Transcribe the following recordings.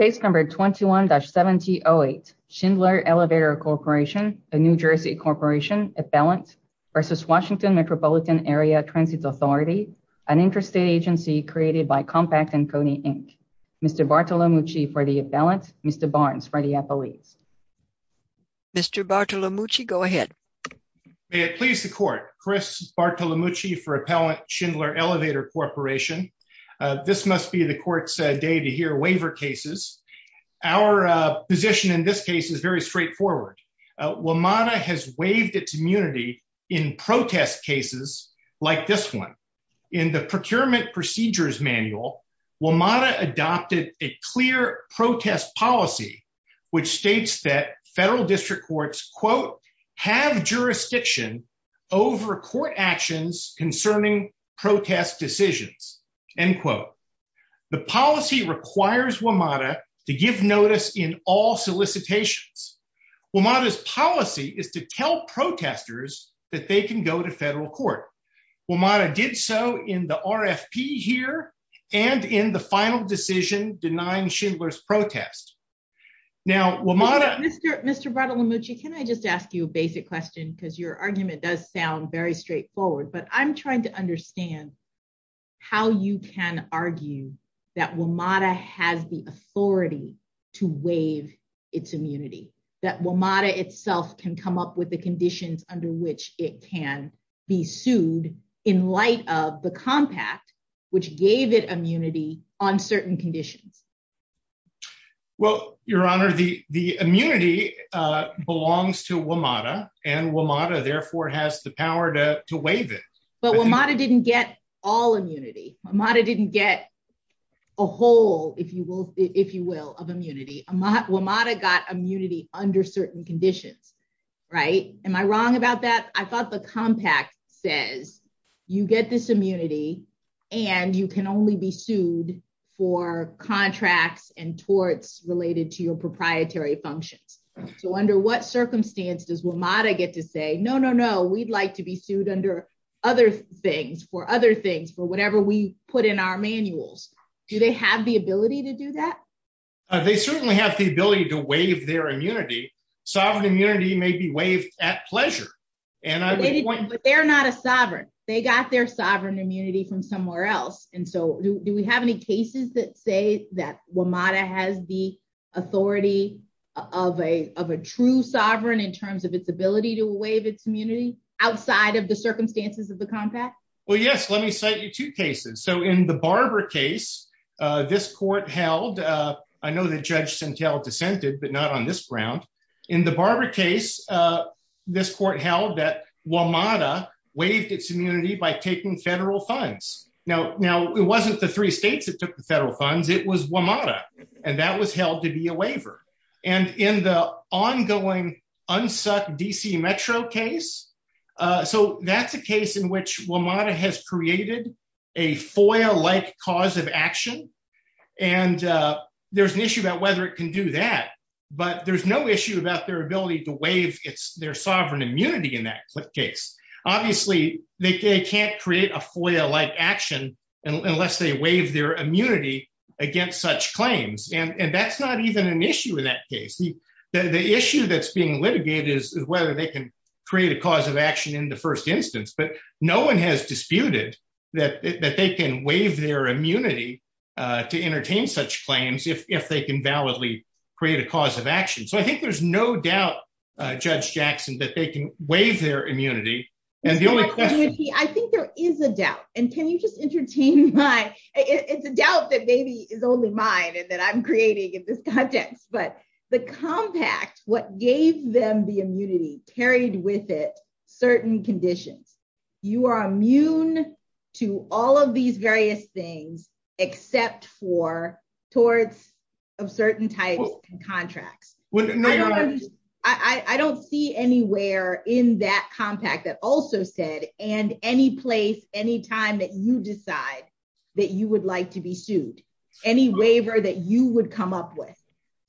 Case number 21-7008, Schindler Elevator Corporation, a New Jersey corporation, appellant, versus Washington Metropolitan Area Transit Authority, an interstate agency created by Compaq and Kony Inc. Mr. Bartolomucci for the appellant, Mr. Barnes for the appellate. Mr. Bartolomucci, go ahead. May it please the court, Chris Bartolomucci for appellant, Schindler Elevator Corporation. This must be the court's day to hear waiver cases. Our position in this case is very straightforward. WMATA has waived its immunity in protest cases like this one. In the Procurement Procedures Manual, WMATA adopted a clear protest policy which states that federal district courts, quote, have jurisdiction over court actions concerning protest decisions, end quote. The policy requires WMATA to give notice in all solicitations. WMATA's policy is to tell protesters that they can go to federal court. WMATA did so in the RFP here and in the final decision denying Schindler's protest. Now, WMATA- Mr. Bartolomucci, can I just ask you a basic question because your argument does sound very straightforward, but I'm trying to understand how you can argue that WMATA has the authority to waive its immunity, that WMATA itself can come up with the conditions under which it can be sued in light of the compact which gave it immunity on certain conditions. Well, Your Honor, the immunity belongs to WMATA and WMATA therefore has the power to waive it. But WMATA didn't get all immunity. WMATA didn't get a whole, if you will, of immunity. WMATA got immunity under certain conditions, right? Am I wrong about that? I thought the compact says you get this immunity and you can only be sued for contracts and torts related to your proprietary functions. So under what circumstance does WMATA get to say, no, no, no, we'd like to be sued under other things, for other things, for whatever we put in our manuals. Do they have the ability to do that? They certainly have the ability to waive their immunity. Sovereign immunity may be at pleasure. But they're not a sovereign. They got their sovereign immunity from somewhere else. And so do we have any cases that say that WMATA has the authority of a true sovereign in terms of its ability to waive its immunity outside of the circumstances of the compact? Well, yes, let me cite you two cases. So in the Barber case, this court held, I know that Judge Santel dissented, but not on this ground. In the Barber case, this court held that WMATA waived its immunity by taking federal funds. Now, it wasn't the three states that took the federal funds, it was WMATA. And that was held to be a waiver. And in the ongoing unsuck DC Metro case, so that's a case in which WMATA has created a FOIA-like cause of action. And there's an issue about whether it can do that. But there's no issue about their ability to waive their sovereign immunity in that case. Obviously, they can't create a FOIA-like action unless they waive their immunity against such claims. And that's not even an issue in that case. The issue that's being litigated is whether they can create a cause of action in the first instance. But no one has disputed that they can waive their create a cause of action. So I think there's no doubt, Judge Jackson, that they can waive their immunity. And the only question would be, I think there is a doubt. And can you just entertain my, it's a doubt that maybe is only mine and that I'm creating in this context. But the compact, what gave them the immunity carried with it certain conditions. You are immune to all of these various things except for towards of certain types and contracts. I don't see anywhere in that compact that also said, and any place, any time that you decide that you would like to be sued, any waiver that you would come up with.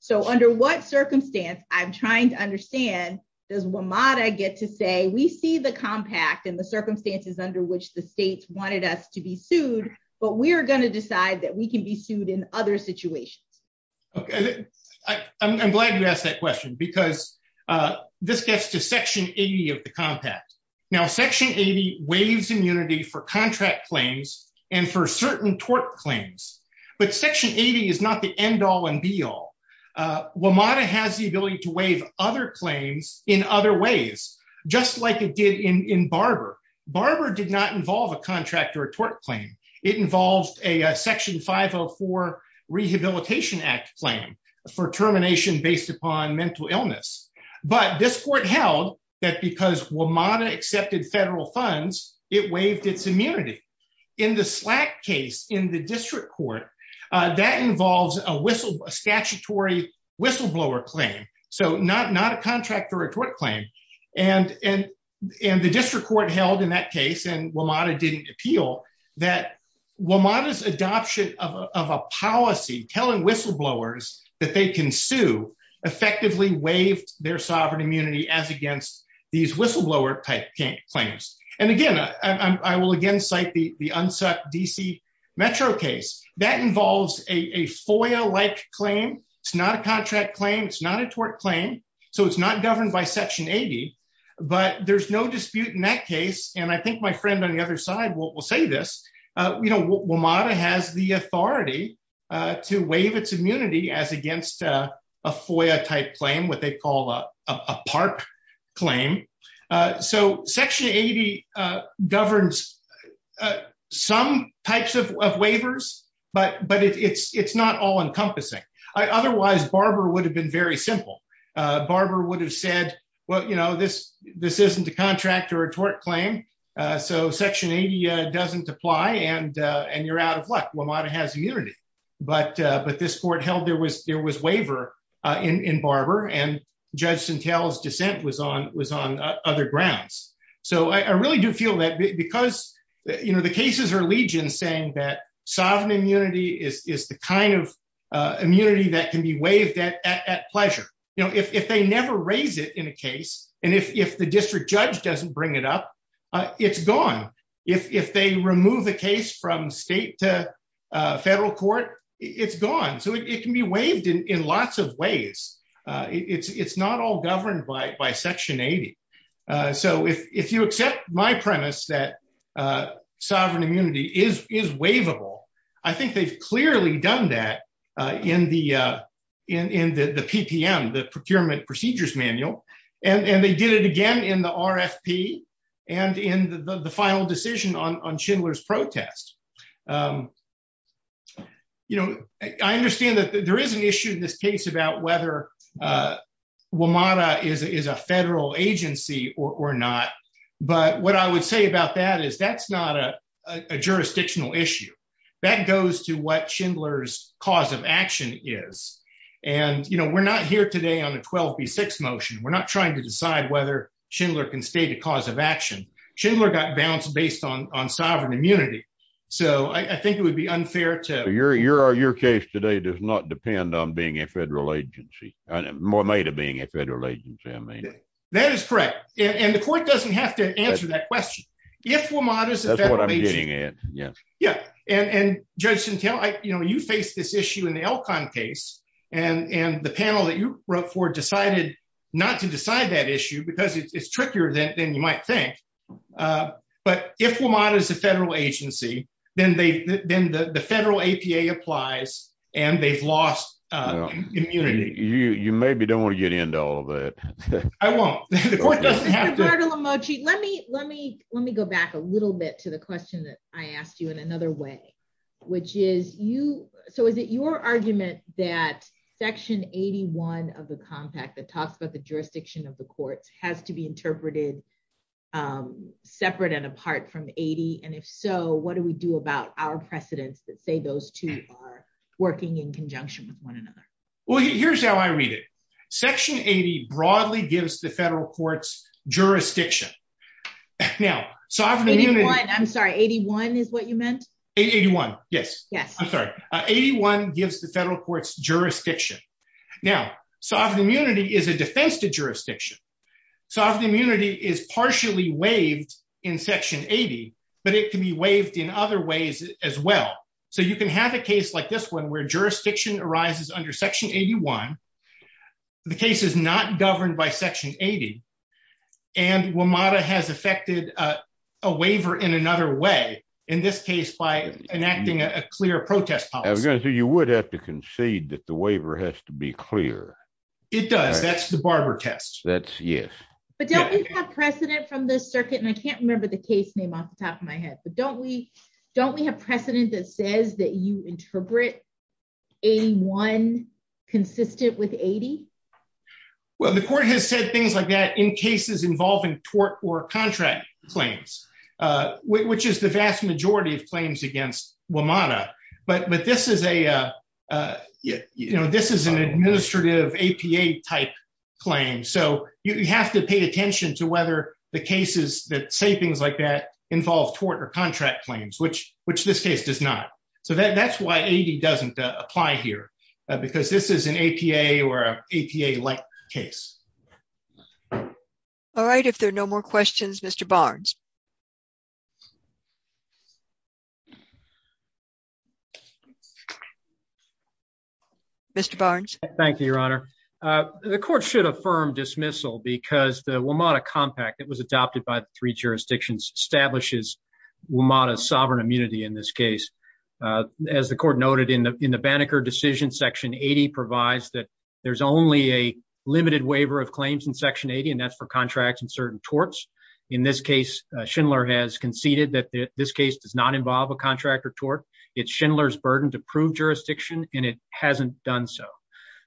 So under what circumstance, I'm trying to understand, does WMATA get to say, we see the compact and the circumstances under which the states wanted us to be sued, but we're going to decide that we can be sued in other situations. Okay. I'm glad you asked that question because this gets to section 80 of the compact. Now, section 80 waives immunity for contract claims and for certain tort claims. But section 80 is not the end all and be all. WMATA has the ability to waive other claims in other ways, just like it did in Barber. Barber did not involve a contract or a tort claim. It involved a section 504 Rehabilitation Act claim for termination based upon mental illness. But this court held that because WMATA accepted federal funds, it waived its immunity. In the Slack case in the district court, that involves a statutory whistleblower claim, so not a contract or a tort claim. And the district court held in that case, and WMATA didn't appeal, that WMATA's adoption of a policy telling whistleblowers that they can sue effectively waived their sovereign immunity as against these whistleblower type claims. And again, I will again cite the UNSUC DC Metro case. That involves a FOIA-like claim. It's not a contract claim. It's not a tort claim. So it's not governed by section 80. But there's no dispute in that case. And I think my friend on the other side will say this. WMATA has the authority to waive its immunity as against a FOIA-type claim, what they call a PARP claim. So section 80 governs some types of waivers, but it's not all-encompassing. Otherwise, Barber would have been very simple. Barber would have said, well, this isn't a contract or a tort claim. So section 80 doesn't apply, and you're out of luck. WMATA has immunity. But this court held there was waiver in Barber, and Judge Santel's dissent was on other grounds. So I really do feel that because the cases are saying that sovereign immunity is the kind of immunity that can be waived at pleasure. If they never raise it in a case, and if the district judge doesn't bring it up, it's gone. If they remove a case from state to federal court, it's gone. So it can be waived in lots of ways. It's all governed by section 80. So if you accept my premise that sovereign immunity is waivable, I think they've clearly done that in the PPM, the Procurement Procedures Manual, and they did it again in the RFP and in the final decision on Schindler's protest. I understand that there is an issue in this case about whether WMATA is a federal agency or not. But what I would say about that is that's not a jurisdictional issue. That goes to what Schindler's cause of action is. And we're not here today on a 12 v. 6 motion. We're not trying to decide whether Schindler can stay the cause of action. Schindler got bounced based on sovereign immunity. So I think it would be unfair to- Your case today does not depend on being a federal agency, more made of being a federal agency, I mean. That is correct. And the court doesn't have to answer that question. If WMATA is a federal agency- That's what I'm getting at, yes. Yeah. And Judge Santel, you faced this issue in the Elkhorn case, and the panel that you wrote for decided not to decide that issue because it's trickier than you might think. But if WMATA is a federal agency, then the federal APA applies, and they've lost immunity. You maybe don't want to get into all of that. I won't. The court doesn't have to- Mr. Bartolomeucci, let me go back a little bit to the question that I asked you in another way, which is, so is it your argument that section 81 of the compact that talks about the jurisdiction of the courts has to be interpreted separate and apart from 80? And if so, what do we do about our precedents that say those two are working in conjunction with one another? Well, here's how I read it. Section 80 broadly gives the federal courts jurisdiction. Now, sovereign immunity- 81. I'm sorry, 81 is what you meant? 81. Yes. Yes. I'm sorry. 81 gives the federal courts jurisdiction. Now, sovereign immunity is a defense to jurisdiction. Sovereign immunity is partially waived in section 80, but it can be waived in other ways as well. So you can have a case like this one where jurisdiction arises under section 81, the case is not governed by section 80, and WMATA has effected a waiver in another way, in this case by enacting a clear protest policy. I was going to say, you would have to concede that the waiver has to be clear. It does. That's the Barber test. That's, yes. But don't we have precedent from the circuit, and I can't remember the case name off the top of my head, but don't we have precedent that says that you interpret 81 consistent with 80? Well, the court has said things like that in cases involving tort or contract claims, which is the vast majority of claims against WMATA. But this is an administrative APA type claim. So you have to pay attention to whether the cases that say things like that involve tort or contract claims, which this case does not. So that's why 80 doesn't apply here, because this is an APA or APA-like case. All right. If there are no more questions, Mr. Barnes. Mr. Barnes. Thank you, Your Honor. The court should affirm dismissal because the WMATA compact that was adopted by the three jurisdictions establishes WMATA's sovereign immunity in this case. As the court noted in the Banneker decision, section 80 provides that there's only a limited waiver of claims in section 80, and that's for contracts and certain torts. In this case, Schindler has conceded that this case does not involve a contract or tort. It's Schindler's burden to prove jurisdiction, and it hasn't done so.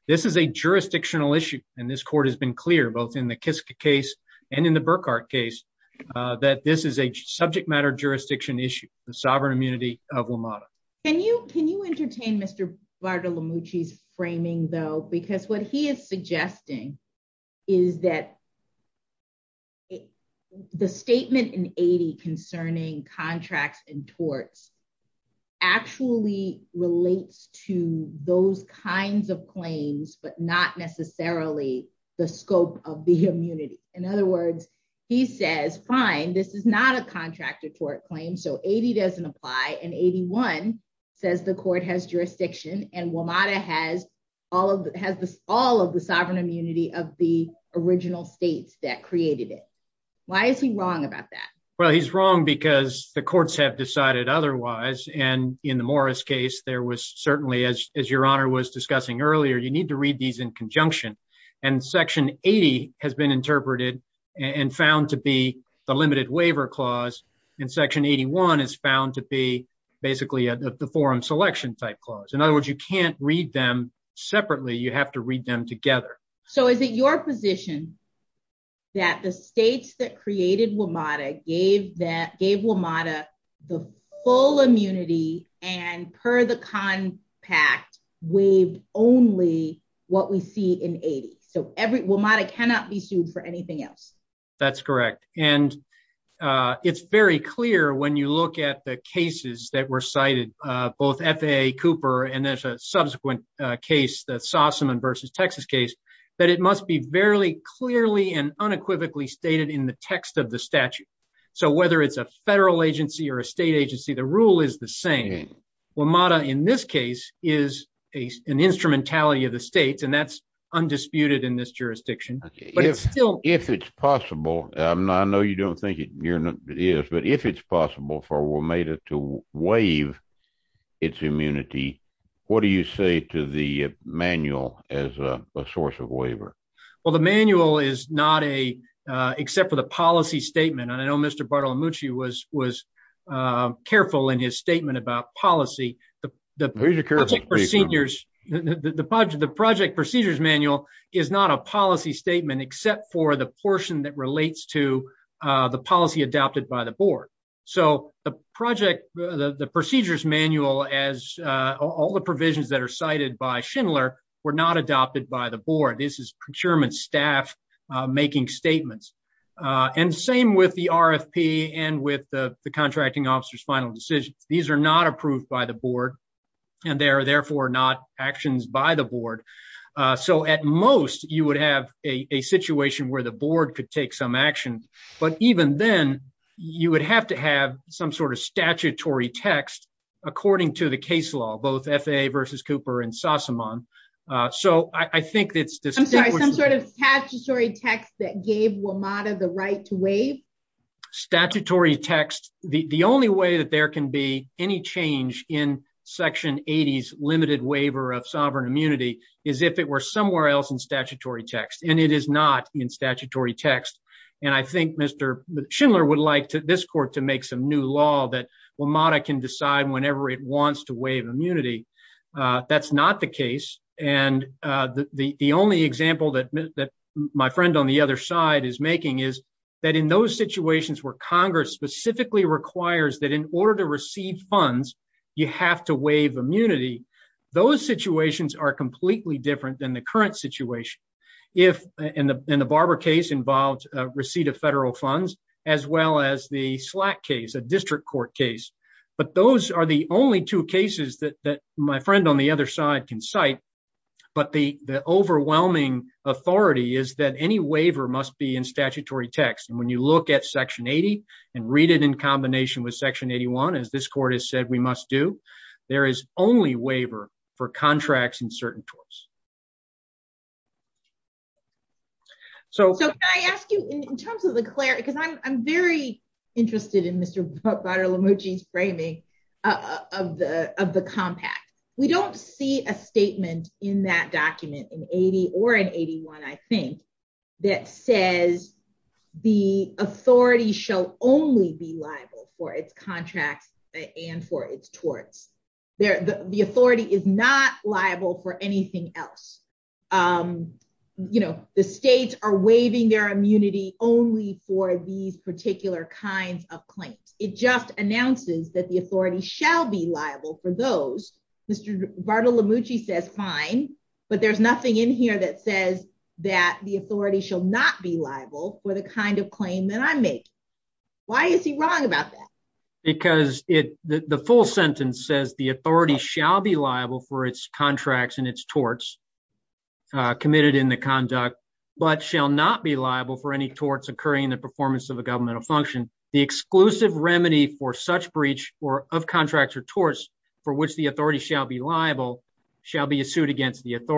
This is a jurisdictional issue, and this court has been clear, both in the Kiska case and in the Burkhart case, that this is a subject matter jurisdiction issue, the sovereign immunity of WMATA. Can you entertain Mr. Bartolomucci's framing, though? Because what he is suggesting is that the statement in 80 concerning contracts and torts actually relates to those kinds of claims, but not necessarily the scope of the immunity. In other words, he says, fine, this is not a contract or tort claim, so 80 doesn't apply, and 81 says the court has jurisdiction, and WMATA has all of the sovereign immunity of the original states that created it. Why is he wrong about that? Well, he's wrong because the courts have decided otherwise, and in the Morris case, there was certainly, as your honor was discussing earlier, you need to read these in conjunction, and section 80 has been interpreted and found to be the limited waiver clause, and section 81 is found to be basically the forum selection type clause. In other words, you can't read them separately. You have to read them together. So is it your position that the states that gave WMATA the full immunity and per the compact waived only what we see in 80? So WMATA cannot be sued for anything else. That's correct, and it's very clear when you look at the cases that were cited, both FAA, Cooper, and there's a subsequent case, the Sossaman versus Texas case, that it must be very clearly and unequivocally stated in the text of statute. So whether it's a federal agency or a state agency, the rule is the same. WMATA, in this case, is an instrumentality of the states, and that's undisputed in this jurisdiction. If it's possible, and I know you don't think it is, but if it's possible for WMATA to waive its immunity, what do you say to the manual as a source of waiver? Well, the manual is not a, except for the policy statement, and I know Mr. Bartolomucci was careful in his statement about policy. The project procedures manual is not a policy statement except for the portion that relates to the policy adopted by the board. So the procedures manual, as all the provisions that are cited by Schindler, were not adopted by the board. This is procurement staff making statements. And same with the RFP and with the contracting officer's final decisions. These are not approved by the board, and they are therefore not actions by the board. So at most, you would have a situation where the board could take some action, but even then, you would have to have some sort of statutory text according to the I think it's... I'm sorry, some sort of statutory text that gave WMATA the right to waive? Statutory text. The only way that there can be any change in section 80's limited waiver of sovereign immunity is if it were somewhere else in statutory text, and it is not in statutory text. And I think Mr. Schindler would like this court to make some new law that WMATA can decide whenever it wants to waive immunity. That's not the case, and the only example that my friend on the other side is making is that in those situations where Congress specifically requires that in order to receive funds, you have to waive immunity, those situations are completely different than the current situation. If... and the Barber case involved receipt of federal funds, as well as the Slack case, a district court case, but those are the only two cases that my friend on the other side can cite, but the overwhelming authority is that any waiver must be in statutory text, and when you look at section 80 and read it in combination with section 81, as this court has said we must do, there is only waiver for contracts in certain torts. So, so can I ask you in terms of the clarity, because I'm very interested in Mr. Bader-Lemouchi's framing of the of the compact. We don't see a statement in that document in 80 or in 81, I think, that says the authority shall only be liable for its contracts and for its torts. The authority is not liable for anything else. You know, the states are waiving their immunity only for these particular kinds of claims. It just announces that the authority shall be liable for those. Mr. Bader-Lemouchi says fine, but there's nothing in here that says that the authority shall not be liable for the kind of claim that I'm making. Why is he wrong about that? Because it, the full sentence says the authority shall be liable for its contracts and its torts committed in the conduct, but shall not be liable for any torts occurring in the performance of a governmental function. The exclusive remedy for such breach or of contracts or torts for which the authority shall be liable shall be a suit against the exclusive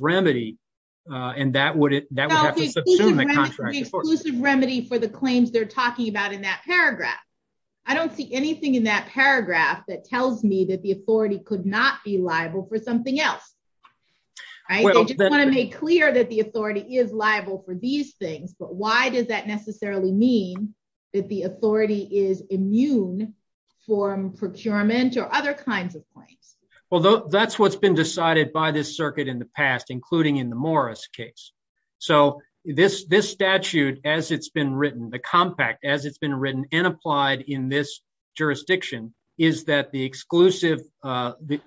remedy for the claims they're talking about in that paragraph. I don't see anything in that paragraph that tells me that the authority could not be liable for something else. I just want to make clear that the authority is liable for these things, but why does that necessarily mean that the authority is immune from procurement or other kinds of claims? Well, that's what's been decided by this circuit in the past, including in the Morris case. So this statute, as it's been written, the compact as it's been written and applied in this jurisdiction, is that the exclusive, the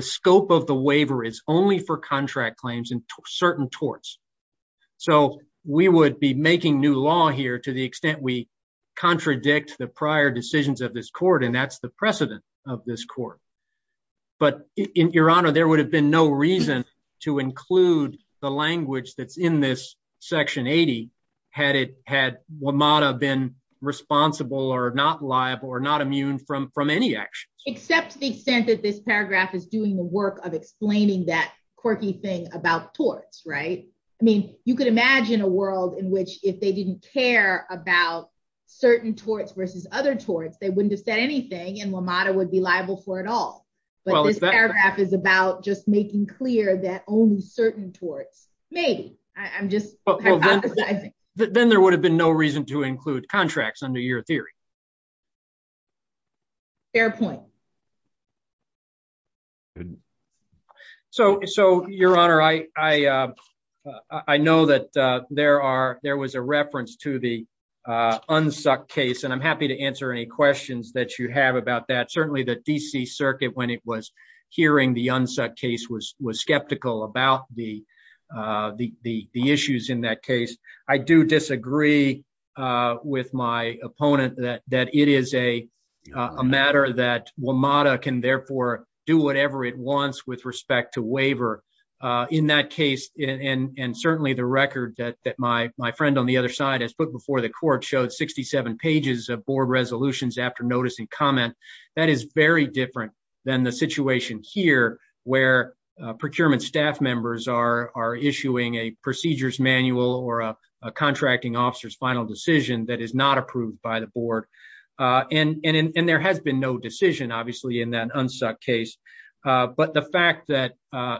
scope of the waiver is only for contract claims and certain torts. So we would be making new law here to the extent we contradict the prior decisions of this court, and that's the precedent of this court. But in your honor, there would have been no reason to include the language that's in this section 80, had WMATA been responsible or not liable or not immune from any action. Except the extent that this paragraph is doing the work of explaining that quirky thing about torts, right? I mean, you could imagine a world in which if they didn't care about certain torts versus other torts, they wouldn't have said anything and WMATA would be liable for it all. But this paragraph is about just making clear that only certain torts, maybe. I'm just Then there would have been no reason to include contracts under your theory. Fair point. So, your honor, I know that there are, there was a reference to the UNSUCC case and I'm happy to answer any questions that you have about that. Certainly the DC circuit, when it was hearing the UNSUCC case, was skeptical about the issues in that case. I do disagree with my opponent that it is a matter that WMATA can therefore do whatever it wants with respect to waiver. In that case, and certainly the record that my friend on the other side has put before the court showed 67 pages of board resolutions after notice and comment. That is very different than the situation here where procurement staff members are issuing a contracting officer's final decision that is not approved by the board. And there has been no decision, obviously, in that UNSUCC case, but the fact that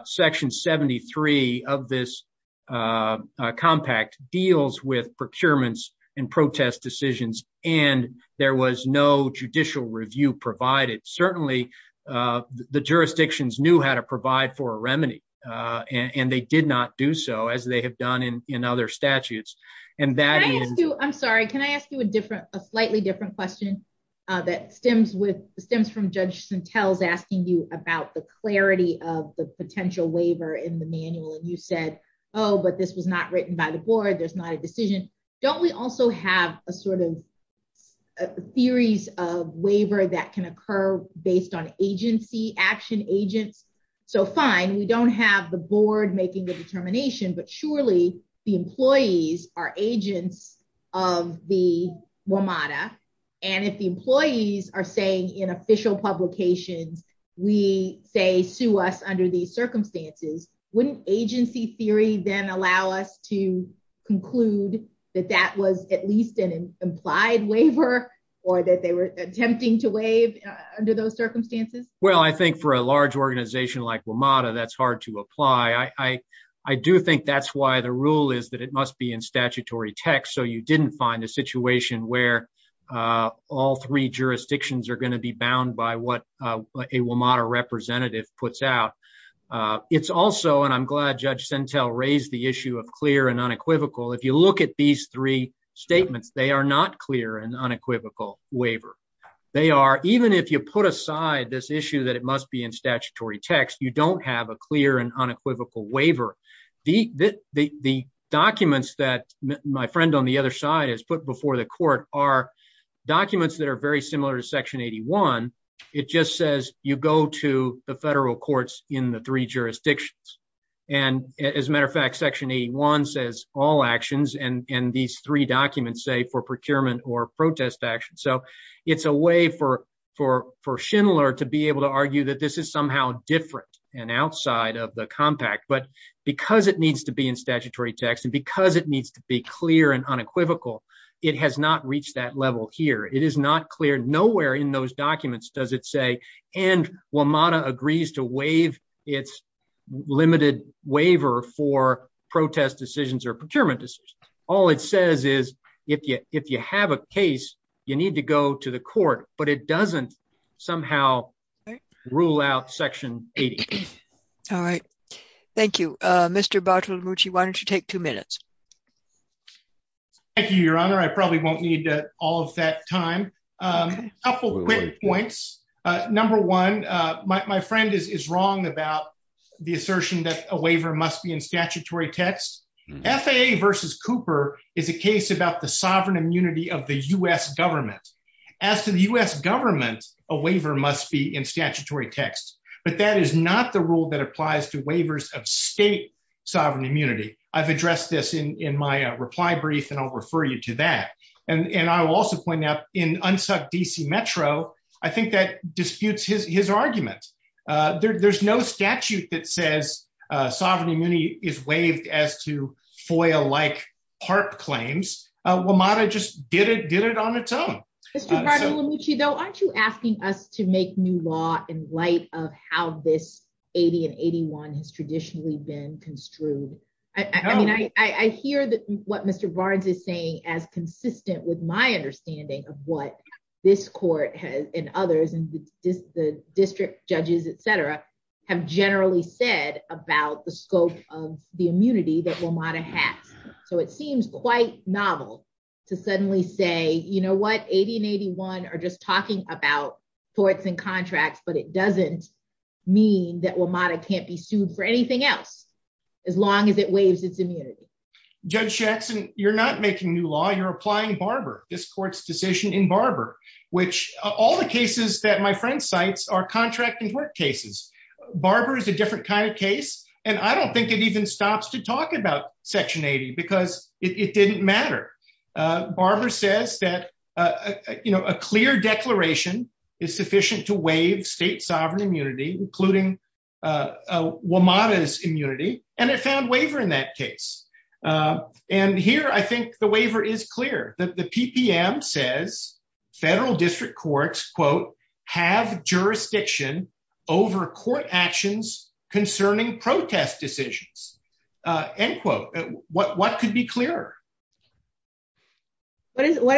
section 73 of this compact deals with procurements and protest decisions and there was no judicial review provided. Certainly the jurisdictions knew how to provide for a remedy and they did not do as they have done in other statutes. Can I ask you, I'm sorry, can I ask you a different, a slightly different question that stems with, stems from Judge Santel's asking you about the clarity of the potential waiver in the manual. And you said, oh, but this was not written by the board. There's not a decision. Don't we also have a sort of theories of waiver that can occur based on agency action agents? So fine, we don't have the board making the determination, but surely the employees are agents of the WMATA. And if the employees are saying in official publications, we say, sue us under these circumstances, wouldn't agency theory then allow us to conclude that that was at least an implied waiver or that they were attempting to Well, I think for a large organization like WMATA, that's hard to apply. I do think that's why the rule is that it must be in statutory text. So you didn't find a situation where all three jurisdictions are going to be bound by what a WMATA representative puts out. It's also, and I'm glad Judge Santel raised the issue of clear and unequivocal. If you look at these three statements, they are not clear and unequivocal waiver. They are, even if you put aside this issue that it must be in statutory text, you don't have a clear and unequivocal waiver. The documents that my friend on the other side has put before the court are documents that are very similar to section 81. It just says you go to the federal courts in the three jurisdictions. And as a matter of fact, section 81 says all actions and these three documents say for procurement or protest action. So it's a way for Schindler to be able to argue that this is somehow different and outside of the compact, but because it needs to be in statutory text and because it needs to be clear and unequivocal, it has not reached that level here. It is not clear. Nowhere in those documents does it say, and WMATA agrees to waive its limited waiver for protest decisions or procurement decisions. All it says is if you have a case, you need to go to the court, but it doesn't somehow rule out section 80. All right. Thank you. Mr. Bartolomucci, why don't you take two minutes? Thank you, Your Honor. I probably won't need all of that time. A couple of quick points. Number one, my friend is wrong about the assertion that a waiver must be in statutory text. FAA versus Cooper is a case about the sovereign immunity of the U.S. government. As to the U.S. government, a waiver must be in statutory text, but that is not the rule that applies to waivers of state sovereign immunity. I've addressed this in my reply brief, and I'll refer you to that. I will also point out in Unsuck D.C. Metro, I think that disputes his argument. There's no statute that says sovereign immunity is waived as to FOIA-like HARP claims. WMATA just did it on its own. Mr. Bartolomucci, though, aren't you asking us to make new law in light of how this 80 and 81 has traditionally been construed? I hear what Mr. Barnes is saying as consistent with my understanding of what this court and others and the district judges, etc., have generally said about the scope of the immunity that WMATA has. So it seems quite novel to suddenly say, you know what, 80 and 81 are just talking about torts and contracts, but it doesn't mean that WMATA can't be sued for anything else as long as it waives its immunity. Judge Jackson, you're not making new law. You're applying Barber, this court's decision in Barber, which all the cases that my friend cites are contract and tort cases. Barber is a different kind of case, and I don't think it even stops to talk about Section 80 because it didn't matter. Barber says that, you know, a clear declaration is sufficient to and it found waiver in that case. And here I think the waiver is clear. The PPM says federal district courts, quote, have jurisdiction over court actions concerning protest decisions, end quote. What could be clearer? What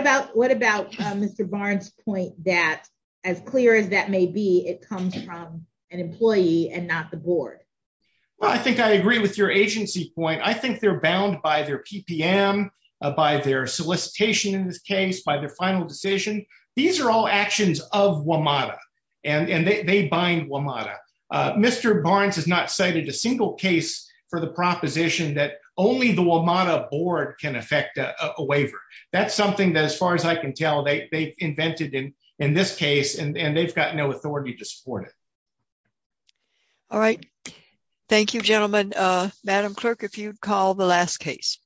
about Mr. Barnes' point that as clear as that may be, it comes from an employee and not the board? Well, I think I agree with your agency point. I think they're bound by their PPM, by their solicitation in this case, by their final decision. These are all actions of WMATA, and they bind WMATA. Mr. Barnes has not cited a single case for the proposition that only the WMATA board can affect a waiver. That's something that as far as I can tell, they invented in this case, and they've got no authority to support it. All right. Thank you, gentlemen. Madam Clerk, if you'd call the last case.